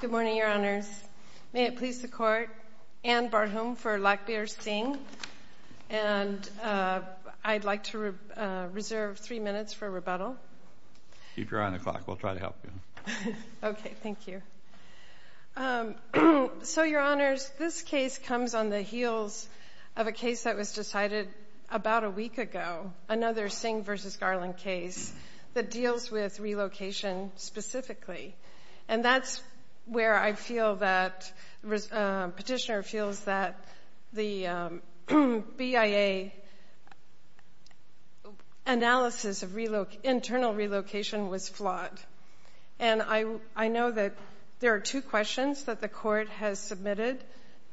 Good morning, Your Honors. May it please the Court, Anne Barhom for Lackbear-Singh. And I'd like to reserve three minutes for rebuttal. Keep your eye on the clock. We'll try to help you. Okay, thank you. So, Your Honors, this case comes on the heels of a case that was decided about a week ago, another Singh v. Garland case that deals with relocation specifically. And that's where I feel that petitioner feels that the BIA analysis of internal relocation was flawed. And I know that there are two questions that the Court has submitted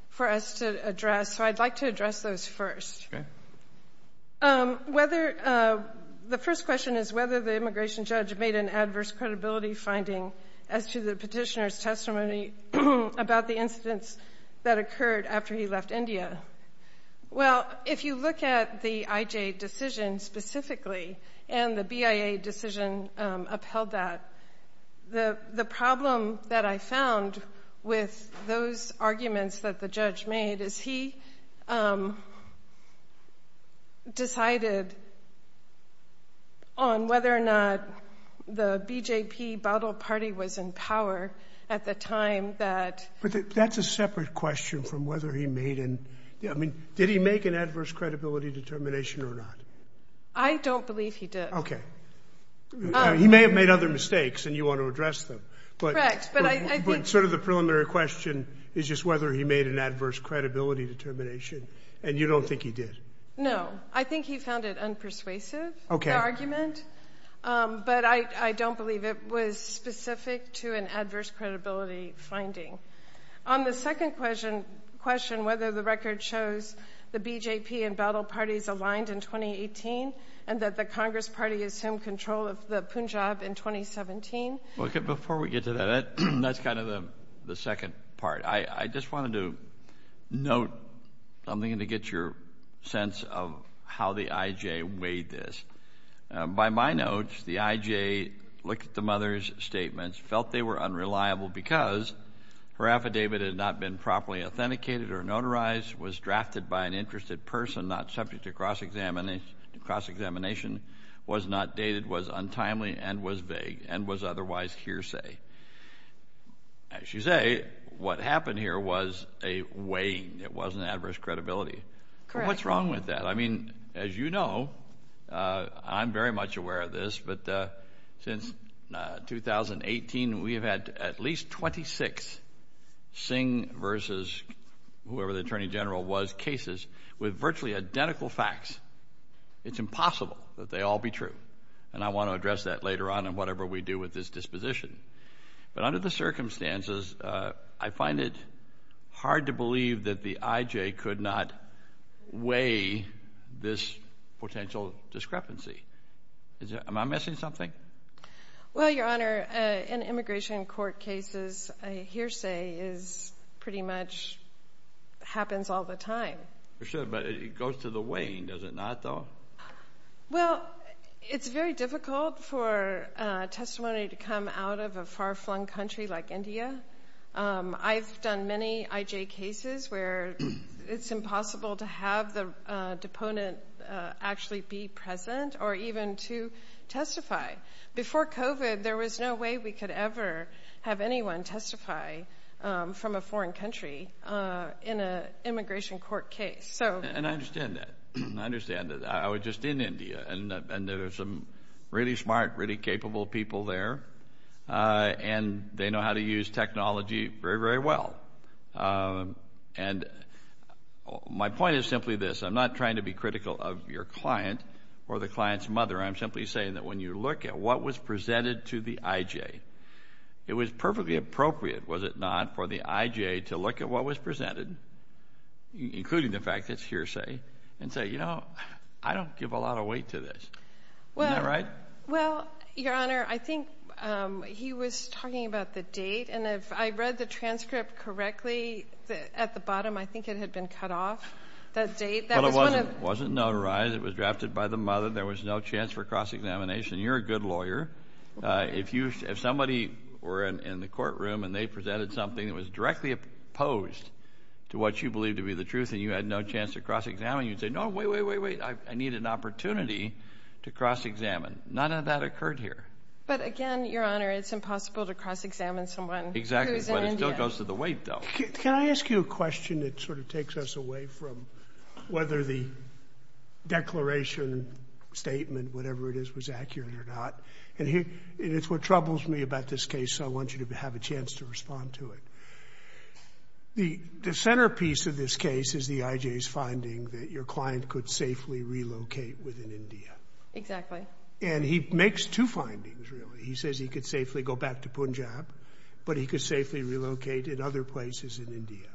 for us to address, so I'd like to address those first. Okay. The first question is whether the immigration judge made an adverse credibility finding as to the petitioner's testimony about the incidents that occurred after he left India. Well, if you look at the IJ decision specifically and the BIA decision upheld that, the problem that I found with those arguments that the judge made is he decided on whether or not the BJP Baudel party was in power at the time that... But that's a separate question from whether he made an... I mean, did he make an adverse credibility determination or not? I don't believe he did. Okay. He may have made other mistakes, and you want to address them. Correct. But I think... But sort of the preliminary question is just whether he made an adverse credibility determination, and you don't think he did. No. I think he found it unpersuasive, the argument. But I don't believe it was specific to an adverse credibility finding. On the second question, whether the record shows the BJP and Baudel parties aligned in 2018 and that the Congress party assumed control of the Punjab in 2017. Before we get to that, that's kind of the second part. I just wanted to note something to get your sense of how the IJ weighed this. By my notes, the IJ looked at the mother's statements, felt they were unreliable because her affidavit had not been properly authenticated or notarized, was drafted by an interested person not subject to cross-examination, was not dated, was untimely, and was vague, and was otherwise hearsay. As you say, what happened here was a weighing. It wasn't adverse credibility. Correct. What's wrong with that? I mean, as you know, I'm very much aware of this, but since 2018, we have had at least 26 Singh versus whoever the Attorney General was cases with virtually identical facts. It's impossible that they all be true. And I want to address that later on in whatever we do with this disposition. But under the circumstances, I find it hard to believe that the IJ could not weigh this potential discrepancy. Am I missing something? Well, Your Honor, in immigration court cases, hearsay pretty much happens all the time. But it goes to the weighing, does it not, though? Well, it's very difficult for testimony to come out of a far-flung country like India. I've done many IJ cases where it's impossible to have the deponent actually be present or even to testify. Before COVID, there was no way we could ever have anyone testify from a foreign country in an immigration court case. And I understand that. I understand that. I was just in India, and there were some really smart, really capable people there. And they know how to use technology very, very well. And my point is simply this. I'm not trying to be critical of your client or the client's mother. I'm simply saying that when you look at what was presented to the IJ, it was perfectly appropriate, was it not, for the IJ to look at what was presented, including the fact it's hearsay, and say, you know, I don't give a lot of weight to this. Isn't that right? Well, Your Honor, I think he was talking about the date. And if I read the transcript correctly, at the bottom, I think it had been cut off, the date. But it wasn't notarized. It was drafted by the mother. There was no chance for cross-examination. You're a good lawyer. If somebody were in the courtroom and they presented something that was directly opposed to what you believed to be the truth and you had no chance to cross-examine, you'd say, no, wait, wait, wait, wait. I need an opportunity to cross-examine. None of that occurred here. But, again, Your Honor, it's impossible to cross-examine someone who's in India. Exactly. But it still goes to the weight, though. Can I ask you a question that sort of takes us away from whether the declaration, statement, whatever it is, was accurate or not? And it's what troubles me about this case, so I want you to have a chance to respond to it. The centerpiece of this case is the IJ's finding that your client could safely relocate within India. Exactly. And he makes two findings, really. He says he could safely go back to Punjab, but he could safely relocate in other places in India.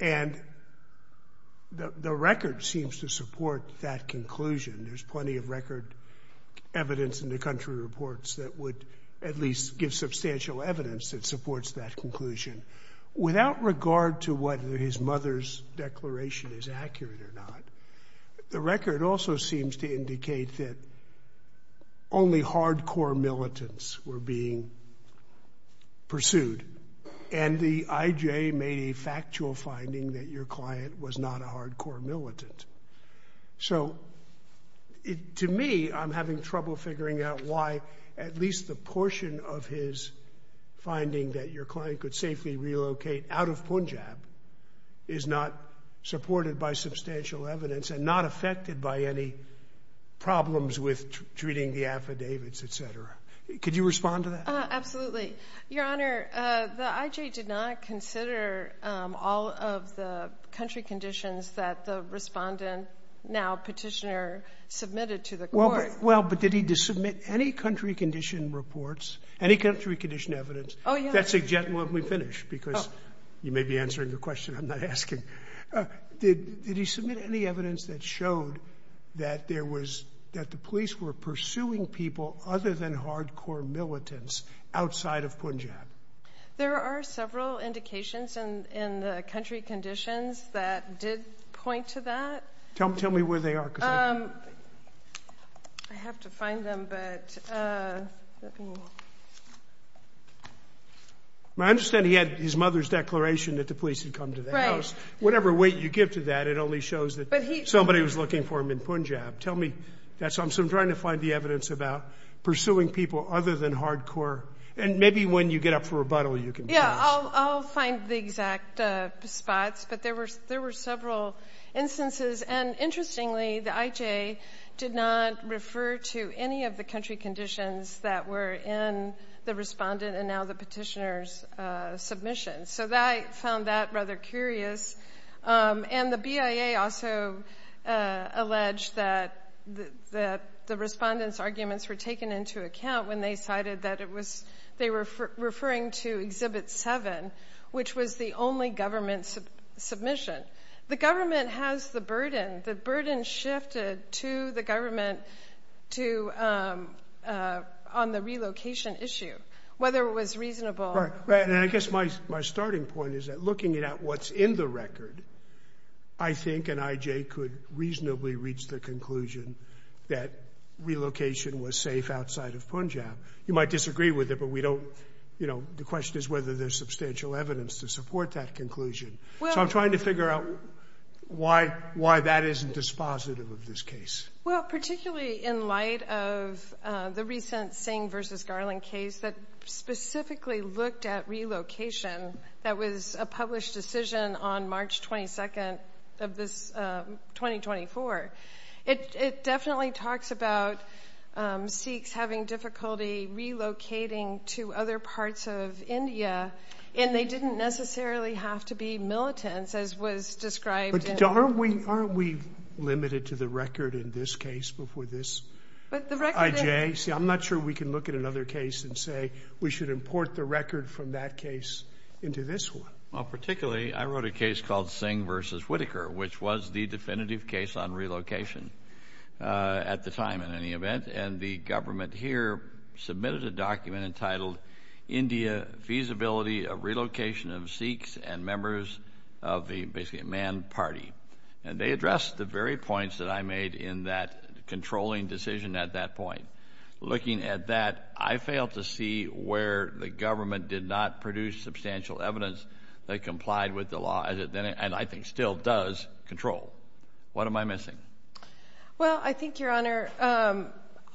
And the record seems to support that conclusion. There's plenty of record evidence in the country reports that would at least give substantial evidence that supports that conclusion. Without regard to whether his mother's declaration is accurate or not, the record also seems to indicate that only hardcore militants were being pursued. And the IJ made a factual finding that your client was not a hardcore militant. So to me, I'm having trouble figuring out why at least the portion of his finding that your client could safely relocate out of Punjab is not supported by substantial evidence and not affected by any problems with treating the affidavits, et cetera. Could you respond to that? Absolutely. Your Honor, the IJ did not consider all of the country conditions that the respondent, now petitioner, submitted to the court. Well, but did he submit any country condition reports, any country condition evidence? Oh, yes. That's a gentleman we finished because you may be answering the question I'm not asking. Did he submit any evidence that showed that the police were pursuing people other than hardcore militants outside of Punjab? There are several indications in the country conditions that did point to that. Tell me where they are. I have to find them, but let me look. I understand he had his mother's declaration that the police had come to the house. Right. Whatever weight you give to that, it only shows that somebody was looking for him in Punjab. Tell me that. So I'm trying to find the evidence about pursuing people other than hardcore. And maybe when you get up for rebuttal, you can tell us. Yeah. I'll find the exact spots, but there were several instances. And interestingly, the IJA did not refer to any of the country conditions that were in the respondent and now the petitioner's submission. So I found that rather curious. And the BIA also alleged that the respondent's arguments were taken into account when they cited that they were referring to Exhibit 7, which was the only government submission. The government has the burden. The burden shifted to the government on the relocation issue, whether it was reasonable. Right. And I guess my starting point is that looking at what's in the record, I think an IJA could reasonably reach the conclusion that relocation was safe outside of Punjab. You might disagree with it, but the question is whether there's substantial evidence to support that conclusion. So I'm trying to figure out why that isn't dispositive of this case. Well, particularly in light of the recent Singh v. Garland case that specifically looked at relocation that was a published decision on March 22nd of 2024. It definitely talks about Sikhs having difficulty relocating to other parts of India, and they didn't necessarily have to be militants, as was described. But aren't we limited to the record in this case before this IJA? See, I'm not sure we can look at another case and say we should import the record from that case into this one. Well, particularly, I wrote a case called Singh v. Whitaker, which was the definitive case on relocation at the time, in any event. And the government here submitted a document entitled India, Feasibility of Relocation of Sikhs and Members of the, basically, Man Party. And they addressed the very points that I made in that controlling decision at that point. Looking at that, I failed to see where the government did not produce substantial evidence that complied with the law, and I think still does, control. What am I missing? Well, I think, Your Honor,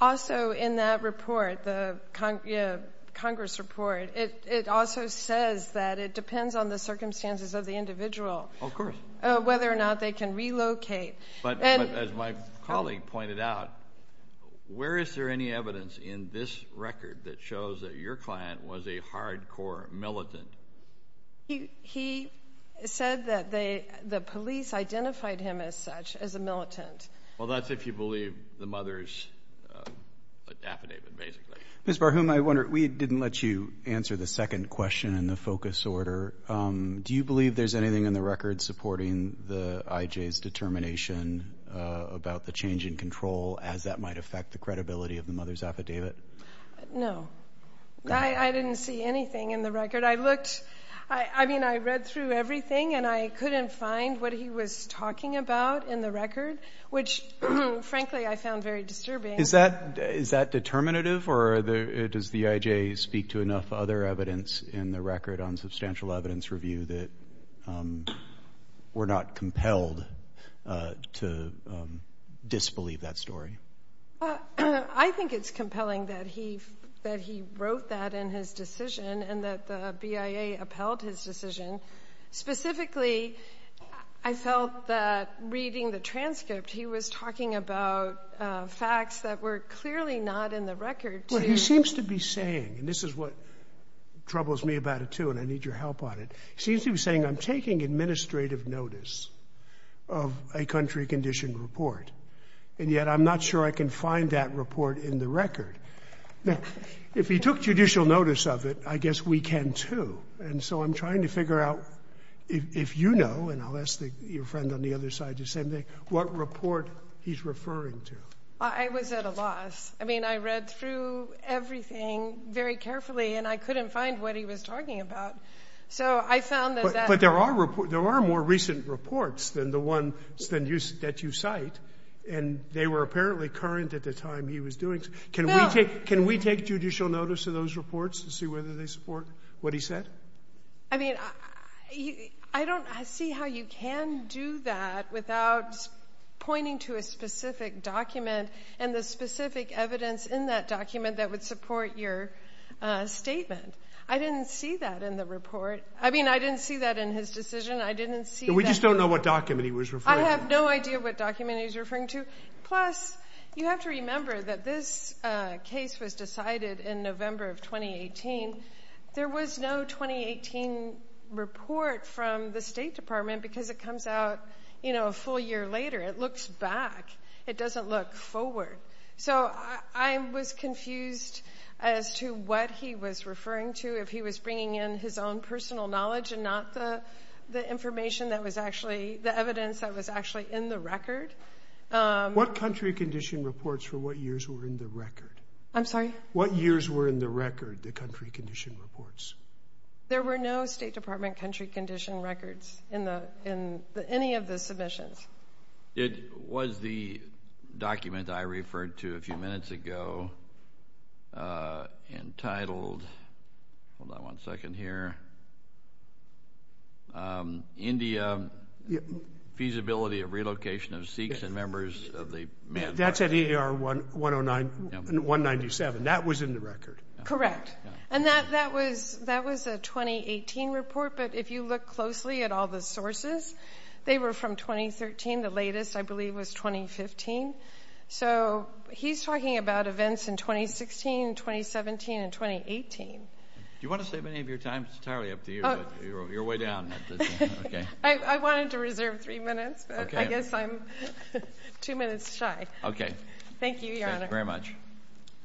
also in that report, the Congress report, it also says that it depends on the circumstances of the individual. Of course. Whether or not they can relocate. But as my colleague pointed out, where is there any evidence in this record that shows that your client was a hardcore militant? He said that the police identified him as such, as a militant. Well, that's if you believe the mother's affidavit, basically. Ms. Barhom, I wonder, we didn't let you answer the second question in the focus order. Do you believe there's anything in the record supporting the IJ's determination about the change in control as that might affect the credibility of the mother's affidavit? No. I didn't see anything in the record. I looked, I mean, I read through everything, and I couldn't find what he was talking about in the record, which, frankly, I found very disturbing. Is that determinative, or does the IJ speak to enough other evidence in the record on substantial evidence review that we're not compelled to disbelieve that story? I think it's compelling that he wrote that in his decision and that the BIA upheld his decision. Specifically, I felt that reading the transcript, he was talking about facts that were clearly not in the record. Well, he seems to be saying, and this is what troubles me about it, too, and I need your help on it. He seems to be saying, I'm taking administrative notice of a country-conditioned report, and yet I'm not sure I can find that report in the record. Now, if he took judicial notice of it, I guess we can, too. And so I'm trying to figure out, if you know, and I'll ask your friend on the other side the same thing, what report he's referring to. I was at a loss. I mean, I read through everything very carefully, and I couldn't find what he was talking about. So I found that that was a problem. But there are more recent reports than the ones that you cite, and they were apparently current at the time he was doing it. Can we take judicial notice of those reports to see whether they support what he said? I mean, I don't see how you can do that without pointing to a specific document and the specific evidence in that document that would support your statement. I didn't see that in the report. I mean, I didn't see that in his decision. I didn't see that. And we just don't know what document he was referring to. I have no idea what document he was referring to. Plus, you have to remember that this case was decided in November of 2018. There was no 2018 report from the State Department because it comes out, you know, a full year later. It looks back. It doesn't look forward. So I was confused as to what he was referring to, if he was bringing in his own personal knowledge and not the information that was actually the evidence that was actually in the record. What country condition reports for what years were in the record? I'm sorry? What years were in the record, the country condition reports? There were no State Department country condition records in any of the submissions. It was the document I referred to a few minutes ago entitled, hold on one second here, India, Feasibility of Relocation of Sikhs and Members of the Manifest. That's at EAR 109, 197. That was in the record. Correct. And that was a 2018 report, but if you look closely at all the sources, they were from 2013. The latest, I believe, was 2015. So he's talking about events in 2016, 2017, and 2018. Do you want to save any of your time? It's entirely up to you. You're way down. Okay. I wanted to reserve three minutes, but I guess I'm two minutes shy. Okay. Thank you, Your Honor. Thank you very much.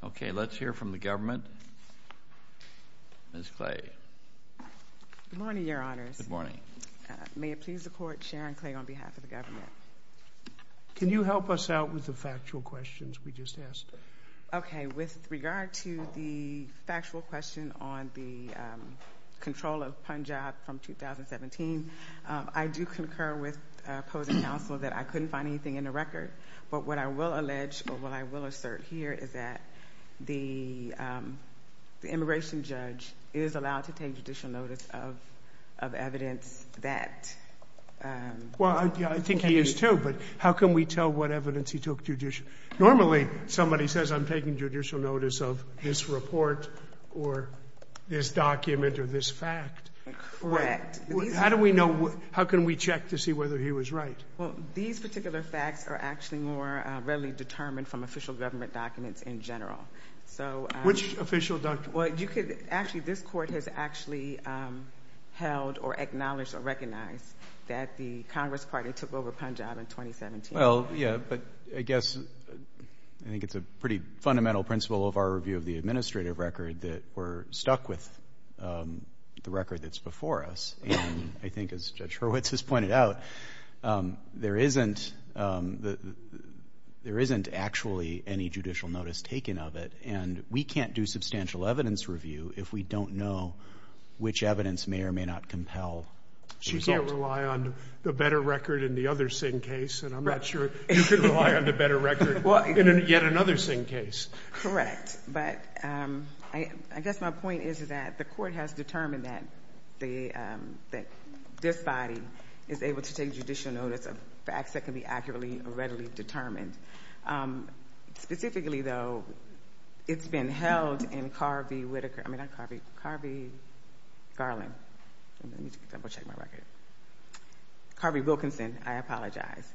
Okay, let's hear from the government. Ms. Clay. Good morning, Your Honors. Good morning. May it please the Court, Sharon Clay on behalf of the government. Can you help us out with the factual questions we just asked? Okay. With regard to the factual question on the control of Punjab from 2017, I do concur with opposing counsel that I couldn't find anything in the record. But what I will allege, or what I will assert here, is that the immigration judge is allowed to take judicial notice of evidence that he took. Well, I think he is too, but how can we tell what evidence he took? Normally, somebody says, I'm taking judicial notice of this report or this document or this fact. Correct. How can we check to see whether he was right? Well, these particular facts are actually more readily determined from official government documents in general. Which official documents? Actually, this Court has actually held or acknowledged or recognized that the Congress Party took over Punjab in 2017. Well, yeah, but I guess I think it's a pretty fundamental principle of our review of the administrative record that we're stuck with the record that's before us. And I think as Judge Hurwitz has pointed out, there isn't actually any judicial notice taken of it, and we can't do substantial evidence review if we don't know which evidence may or may not compel the result. She can't rely on the better record in the other Singh case, and I'm not sure you can rely on the better record in yet another Singh case. Correct. But I guess my point is that the Court has determined that this body is able to take judicial notice of facts that can be accurately or readily determined. Specifically, though, it's been held in Carvey-Whitaker. I mean, not Carvey. Carvey-Garland. Let me double-check my record. Carvey-Wilkinson, I apologize.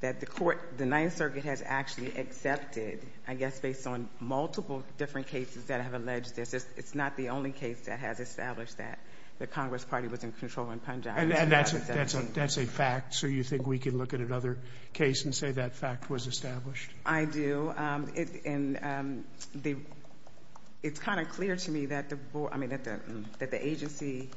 The Ninth Circuit has actually accepted, I guess based on multiple different cases that have alleged this, it's not the only case that has established that the Congress Party was in control in Punjab. And that's a fact, so you think we can look at another case and say that fact was established? I do. And it's kind of clear to me that the agency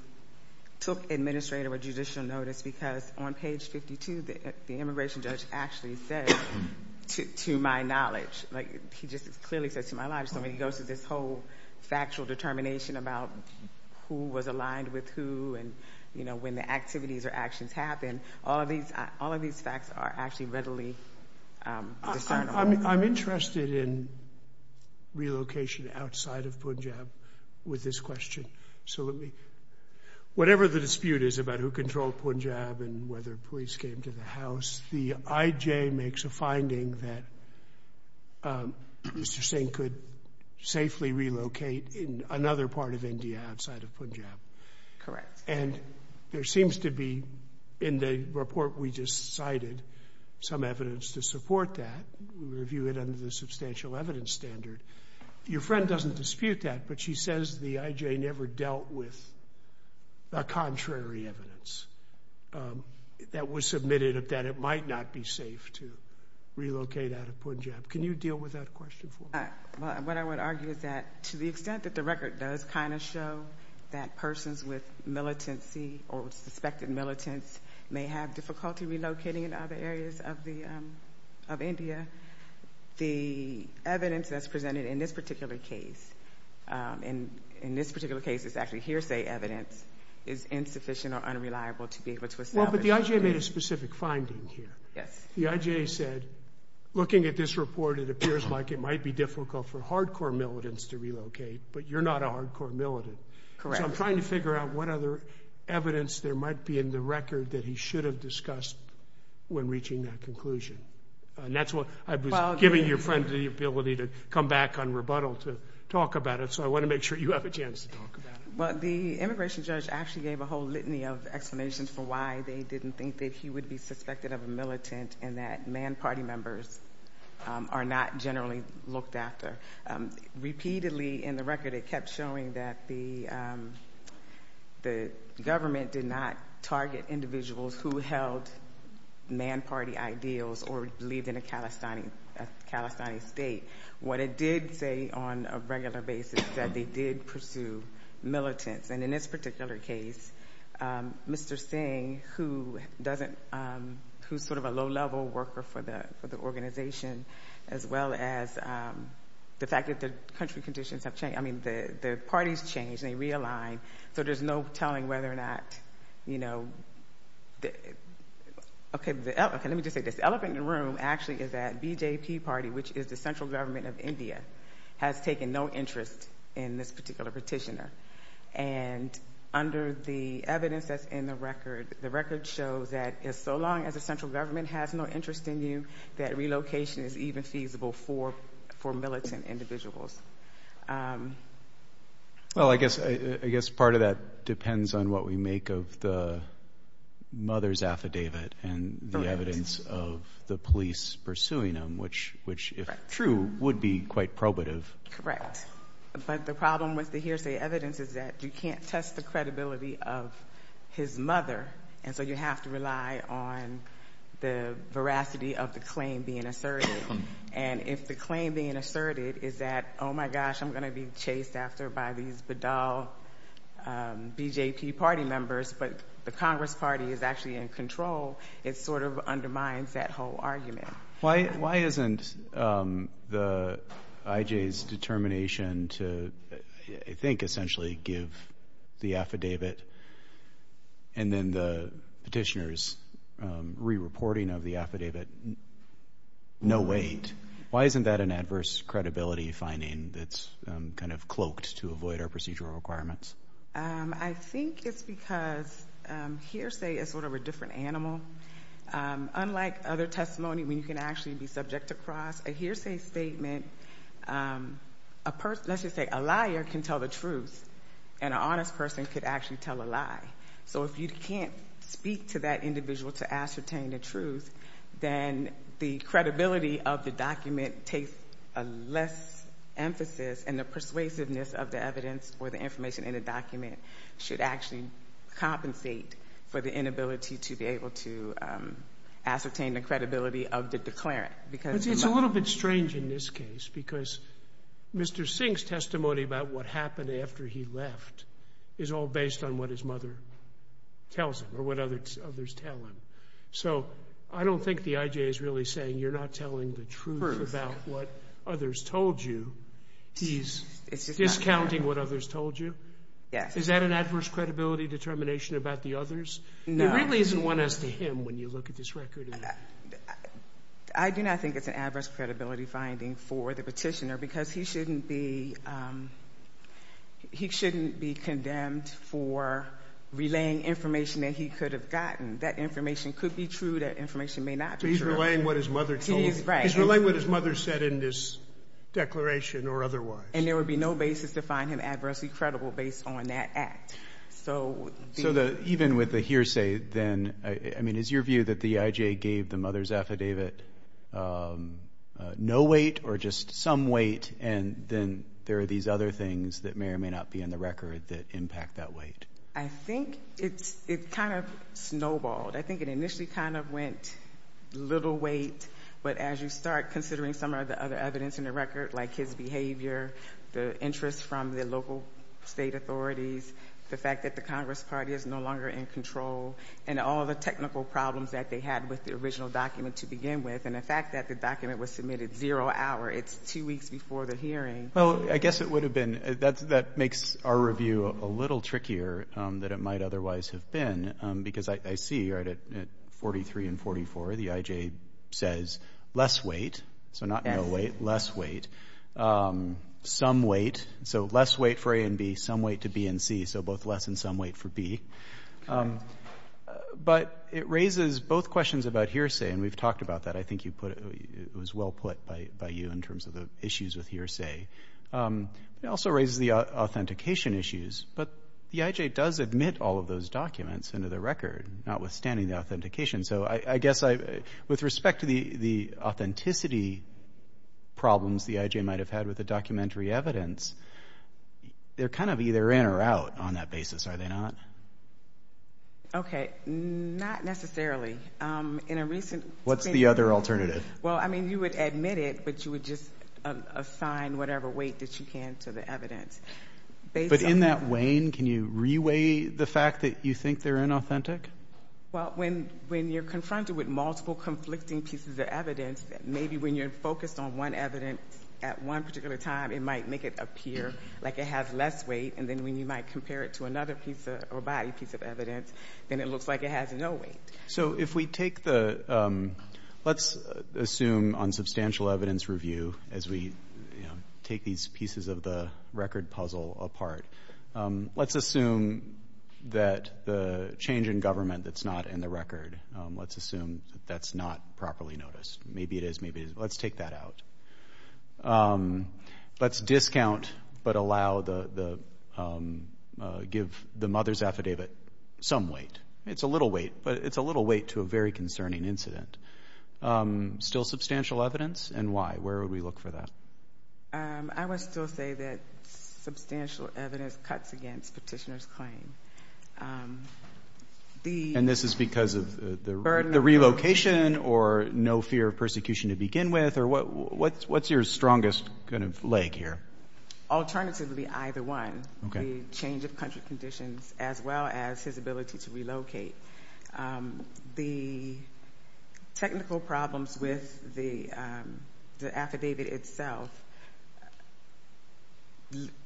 took administrative or judicial notice because on page 52, the immigration judge actually said, to my knowledge, he just clearly said, to my knowledge. So when he goes through this whole factual determination about who was aligned with who and when the activities or actions happened, all of these facts are actually readily discernible. I'm interested in relocation outside of Punjab with this question. Whatever the dispute is about who controlled Punjab and whether police came to the house, the IJ makes a finding that Mr. Singh could safely relocate in another part of India outside of Punjab. Correct. And there seems to be, in the report we just cited, some evidence to support that. We review it under the substantial evidence standard. Your friend doesn't dispute that, but she says the IJ never dealt with the contrary evidence that was submitted that it might not be safe to relocate out of Punjab. Can you deal with that question for me? What I would argue is that to the extent that the record does kind of show that persons with militancy or suspected militants may have difficulty relocating in other areas of India, the evidence that's presented in this particular case, and in this particular case it's actually hearsay evidence, is insufficient or unreliable to be able to establish. Well, but the IJ made a specific finding here. Yes. The IJ said, looking at this report, it appears like it might be difficult for hardcore militants to relocate, but you're not a hardcore militant. Correct. So I'm trying to figure out what other evidence there might be in the record that he should have discussed when reaching that conclusion. And that's what I was giving your friend the ability to come back on rebuttal to talk about it, so I want to make sure you have a chance to talk about it. Well, the immigration judge actually gave a whole litany of explanations for why they didn't think that he would be suspected of a militant and that man party members are not generally looked after. Repeatedly in the record it kept showing that the government did not target individuals who held man party ideals or believed in a Calestinian state. What it did say on a regular basis is that they did pursue militants. And in this particular case, Mr. Singh, who's sort of a low-level worker for the organization, as well as the fact that the country conditions have changed, I mean the parties changed, they realigned, so there's no telling whether or not, you know, okay, let me just say this. The elephant in the room actually is that BJP party, which is the central government of India, has taken no interest in this particular petitioner. And under the evidence that's in the record, the record shows that so long as the central government has no interest in you, that relocation is even feasible for militant individuals. Well, I guess part of that depends on what we make of the mother's affidavit and the evidence of the police pursuing him, which, if true, would be quite probative. Correct. But the problem with the hearsay evidence is that you can't test the credibility of his mother, and so you have to rely on the veracity of the claim being asserted. And if the claim being asserted is that, oh, my gosh, I'm going to be chased after by these bedal BJP party members, but the Congress party is actually in control, it sort of undermines that whole argument. Why isn't the IJ's determination to, I think, essentially give the affidavit and then the petitioner's re-reporting of the affidavit no weight? Why isn't that an adverse credibility finding that's kind of cloaked to avoid our procedural requirements? I think it's because hearsay is sort of a different animal. Unlike other testimony where you can actually be subject to cross, a hearsay statement, let's just say a liar can tell the truth and an honest person could actually tell a lie. So if you can't speak to that individual to ascertain the truth, then the credibility of the document takes less emphasis, and the persuasiveness of the evidence or the information in the document should actually compensate for the inability to be able to ascertain the credibility of the declarant. It's a little bit strange in this case because Mr. Singh's testimony about what happened after he left is all based on what his mother tells him or what others tell him. So I don't think the IJ is really saying you're not telling the truth about what others told you. He's discounting what others told you. Is that an adverse credibility determination about the others? There really isn't one as to him when you look at this record. I do not think it's an adverse credibility finding for the petitioner because he shouldn't be condemned for relaying information that he could have gotten. That information could be true. That information may not be true. So he's relaying what his mother told him. He is, right. He's relaying what his mother said in this declaration or otherwise. And there would be no basis to find him adversely credible based on that act. So even with the hearsay then, I mean, is your view that the IJ gave the mother's affidavit no weight or just some weight and then there are these other things that may or may not be in the record that impact that weight? I think it kind of snowballed. I think it initially kind of went little weight, but as you start considering some of the other evidence in the record like his behavior, the interest from the local state authorities, the fact that the Congress Party is no longer in control, and all the technical problems that they had with the original document to begin with, and the fact that the document was submitted zero hour, it's two weeks before the hearing. Well, I guess it would have been. That makes our review a little trickier than it might otherwise have been because I see right at 43 and 44 the IJ says less weight, so not no weight, less weight, some weight. So less weight for A and B, some weight to B and C, so both less and some weight for B. But it raises both questions about hearsay, and we've talked about that. I think it was well put by you in terms of the issues with hearsay. It also raises the authentication issues. But the IJ does admit all of those documents into the record, notwithstanding the authentication. So I guess with respect to the authenticity problems the IJ might have had with the documentary evidence, they're kind of either in or out on that basis, are they not? Okay, not necessarily. What's the other alternative? Well, I mean, you would admit it, but you would just assign whatever weight that you can to the evidence. But in that weighing, can you re-weigh the fact that you think they're inauthentic? Well, when you're confronted with multiple conflicting pieces of evidence, maybe when you're focused on one evidence at one particular time, it might make it appear like it has less weight, and then when you might compare it to another piece or body piece of evidence, then it looks like it has no weight. So if we take the let's assume on substantial evidence review, as we take these pieces of the record puzzle apart, let's assume that the change in government that's not in the record, let's assume that that's not properly noticed. Maybe it is, maybe it isn't. Let's take that out. Let's discount but allow the give the mother's affidavit some weight. It's a little weight, but it's a little weight to a very concerning incident. Still substantial evidence, and why? Where would we look for that? I would still say that substantial evidence cuts against Petitioner's claim. And this is because of the relocation or no fear of persecution to begin with? What's your strongest kind of leg here? Alternatively, either one. Okay. The change of country conditions, as well as his ability to relocate. The technical problems with the affidavit itself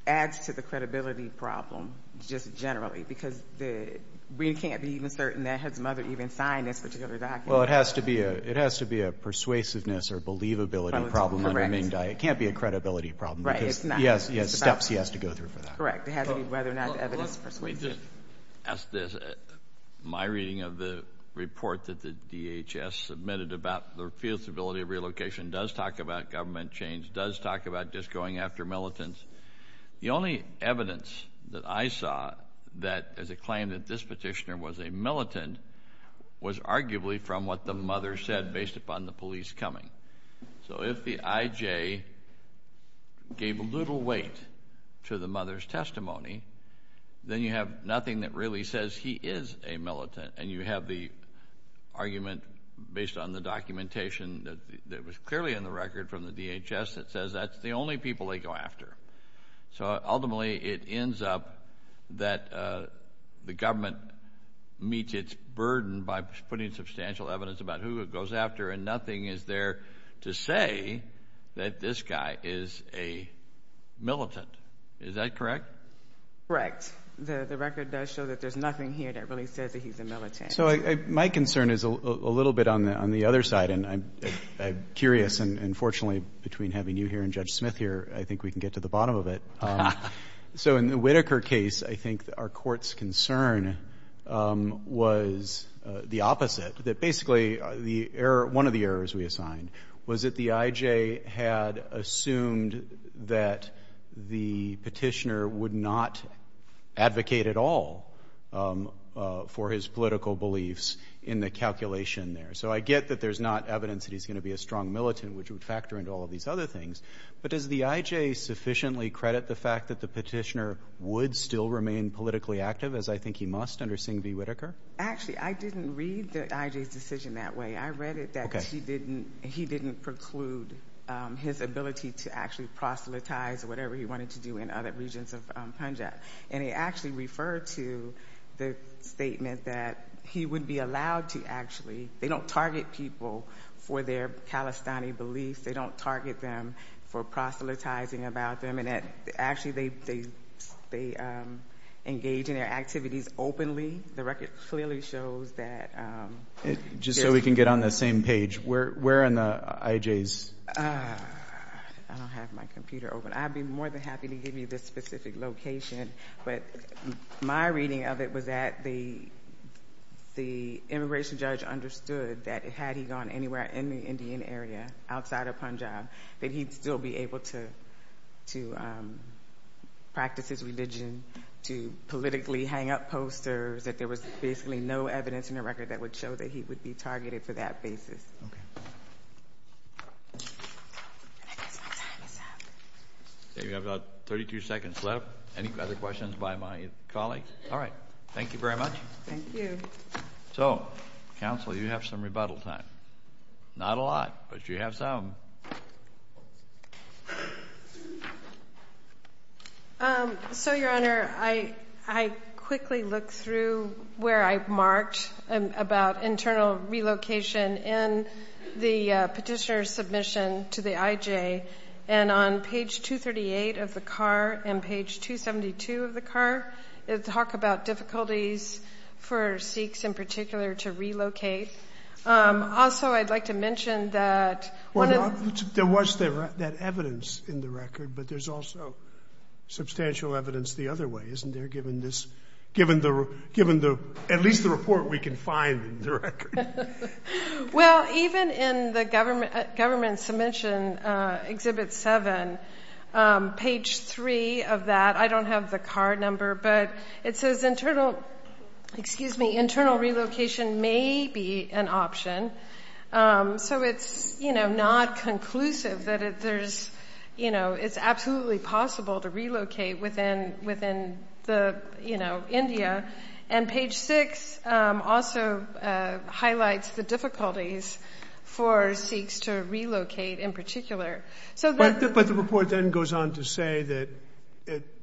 adds to the credibility problem just generally, because we can't be even certain that his mother even signed this particular document. Well, it has to be a persuasiveness or believability problem. Correct. It can't be a credibility problem. Right, it's not. Because he has steps he has to go through for that. Correct. It has to be whether or not the evidence persuasive. Let me just ask this. My reading of the report that the DHS submitted about the feasibility of relocation does talk about government change, does talk about just going after militants. The only evidence that I saw that there's a claim that this petitioner was a militant was arguably from what the mother said based upon the police coming. So if the IJ gave little weight to the mother's testimony, then you have nothing that really says he is a militant, and you have the argument based on the documentation that was clearly in the record from the DHS that says that's the only people they go after. So ultimately, it ends up that the government meets its burden by putting substantial evidence about who it goes after, and nothing is there to say that this guy is a militant. Is that correct? Correct. The record does show that there's nothing here that really says that he's a militant. So my concern is a little bit on the other side, and I'm curious, and fortunately between having you here and Judge Smith here, I think we can get to the bottom of it. So in the Whitaker case, I think our court's concern was the opposite, that basically the error, one of the errors we assigned was that the IJ had assumed that the Petitioner would not advocate at all for his political beliefs in the calculation there. So I get that there's not evidence that he's going to be a strong militant, which would factor into all of these other things. But does the IJ sufficiently credit the fact that the Petitioner would still remain politically active, as I think he must under Singh v. Whitaker? Actually, I didn't read the IJ's decision that way. I read it that he didn't preclude his ability to actually proselytize whatever he wanted to do in other regions of Punjab. And he actually referred to the statement that he would be allowed to actually, they don't target people for their Khalistani beliefs, they don't target them for proselytizing about them, and actually they engage in their activities openly. The record clearly shows that. Just so we can get on the same page, where in the IJ's? I don't have my computer open. I'd be more than happy to give you the specific location. But my reading of it was that the immigration judge understood that had he gone anywhere in the Indian area outside of Punjab, that he'd still be able to practice his religion, to politically hang up posters, that there was basically no evidence in the record that would show that he would be targeted for that basis. We have about 32 seconds left. Any other questions by my colleagues? All right. Thank you very much. Thank you. So, counsel, you have some rebuttal time. Not a lot, but you have some. So, Your Honor, I quickly looked through where I marked about internal relocation in the petitioner's submission to the IJ. And on page 238 of the car and page 272 of the car, it talked about difficulties for Sikhs in particular to relocate. Also, I'd like to mention that one of the... There was that evidence in the record, but there's also substantial evidence the other way, isn't there, given at least the report we can find in the record? Well, even in the government submission, Exhibit 7, page 3 of that, I don't have the car number, but it says internal relocation may be an option. So it's not conclusive that it's absolutely possible to relocate within India. And page 6 also highlights the difficulties for Sikhs to relocate in particular. But the report then goes on to say that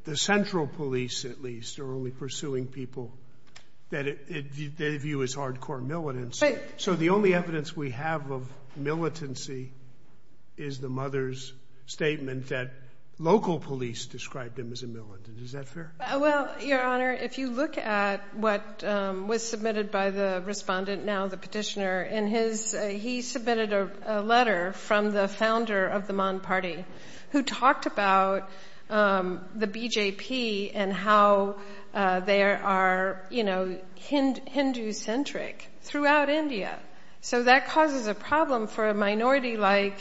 the central police, at least, are only pursuing people that they view as hardcore militants. So the only evidence we have of militancy is the mother's statement that local police described him as a militant. Is that fair? Well, Your Honor, if you look at what was submitted by the respondent, now the petitioner, he submitted a letter from the founder of the Maan Party, who talked about the BJP and how they are Hindu-centric throughout India. So that causes a problem for a minority like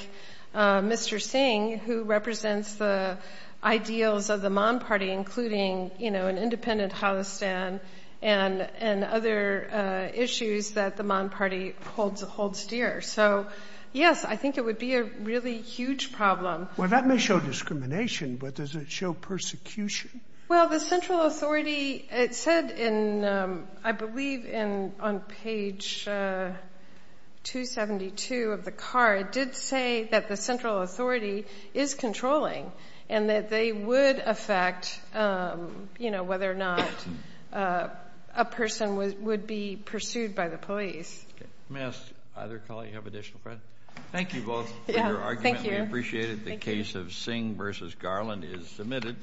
Mr. Singh, who represents the ideals of the Maan Party, including an independent Halestan and other issues that the Maan Party holds dear. So, yes, I think it would be a really huge problem. Well, that may show discrimination, but does it show persecution? Well, the central authority, it said in, I believe, on page 272 of the card, did say that the central authority is controlling and that they would affect whether or not a person would be pursued by the police. May I ask either colleague, do you have additional questions? Thank you both. Your argument, we appreciate it. The case of Singh v. Garland is submitted.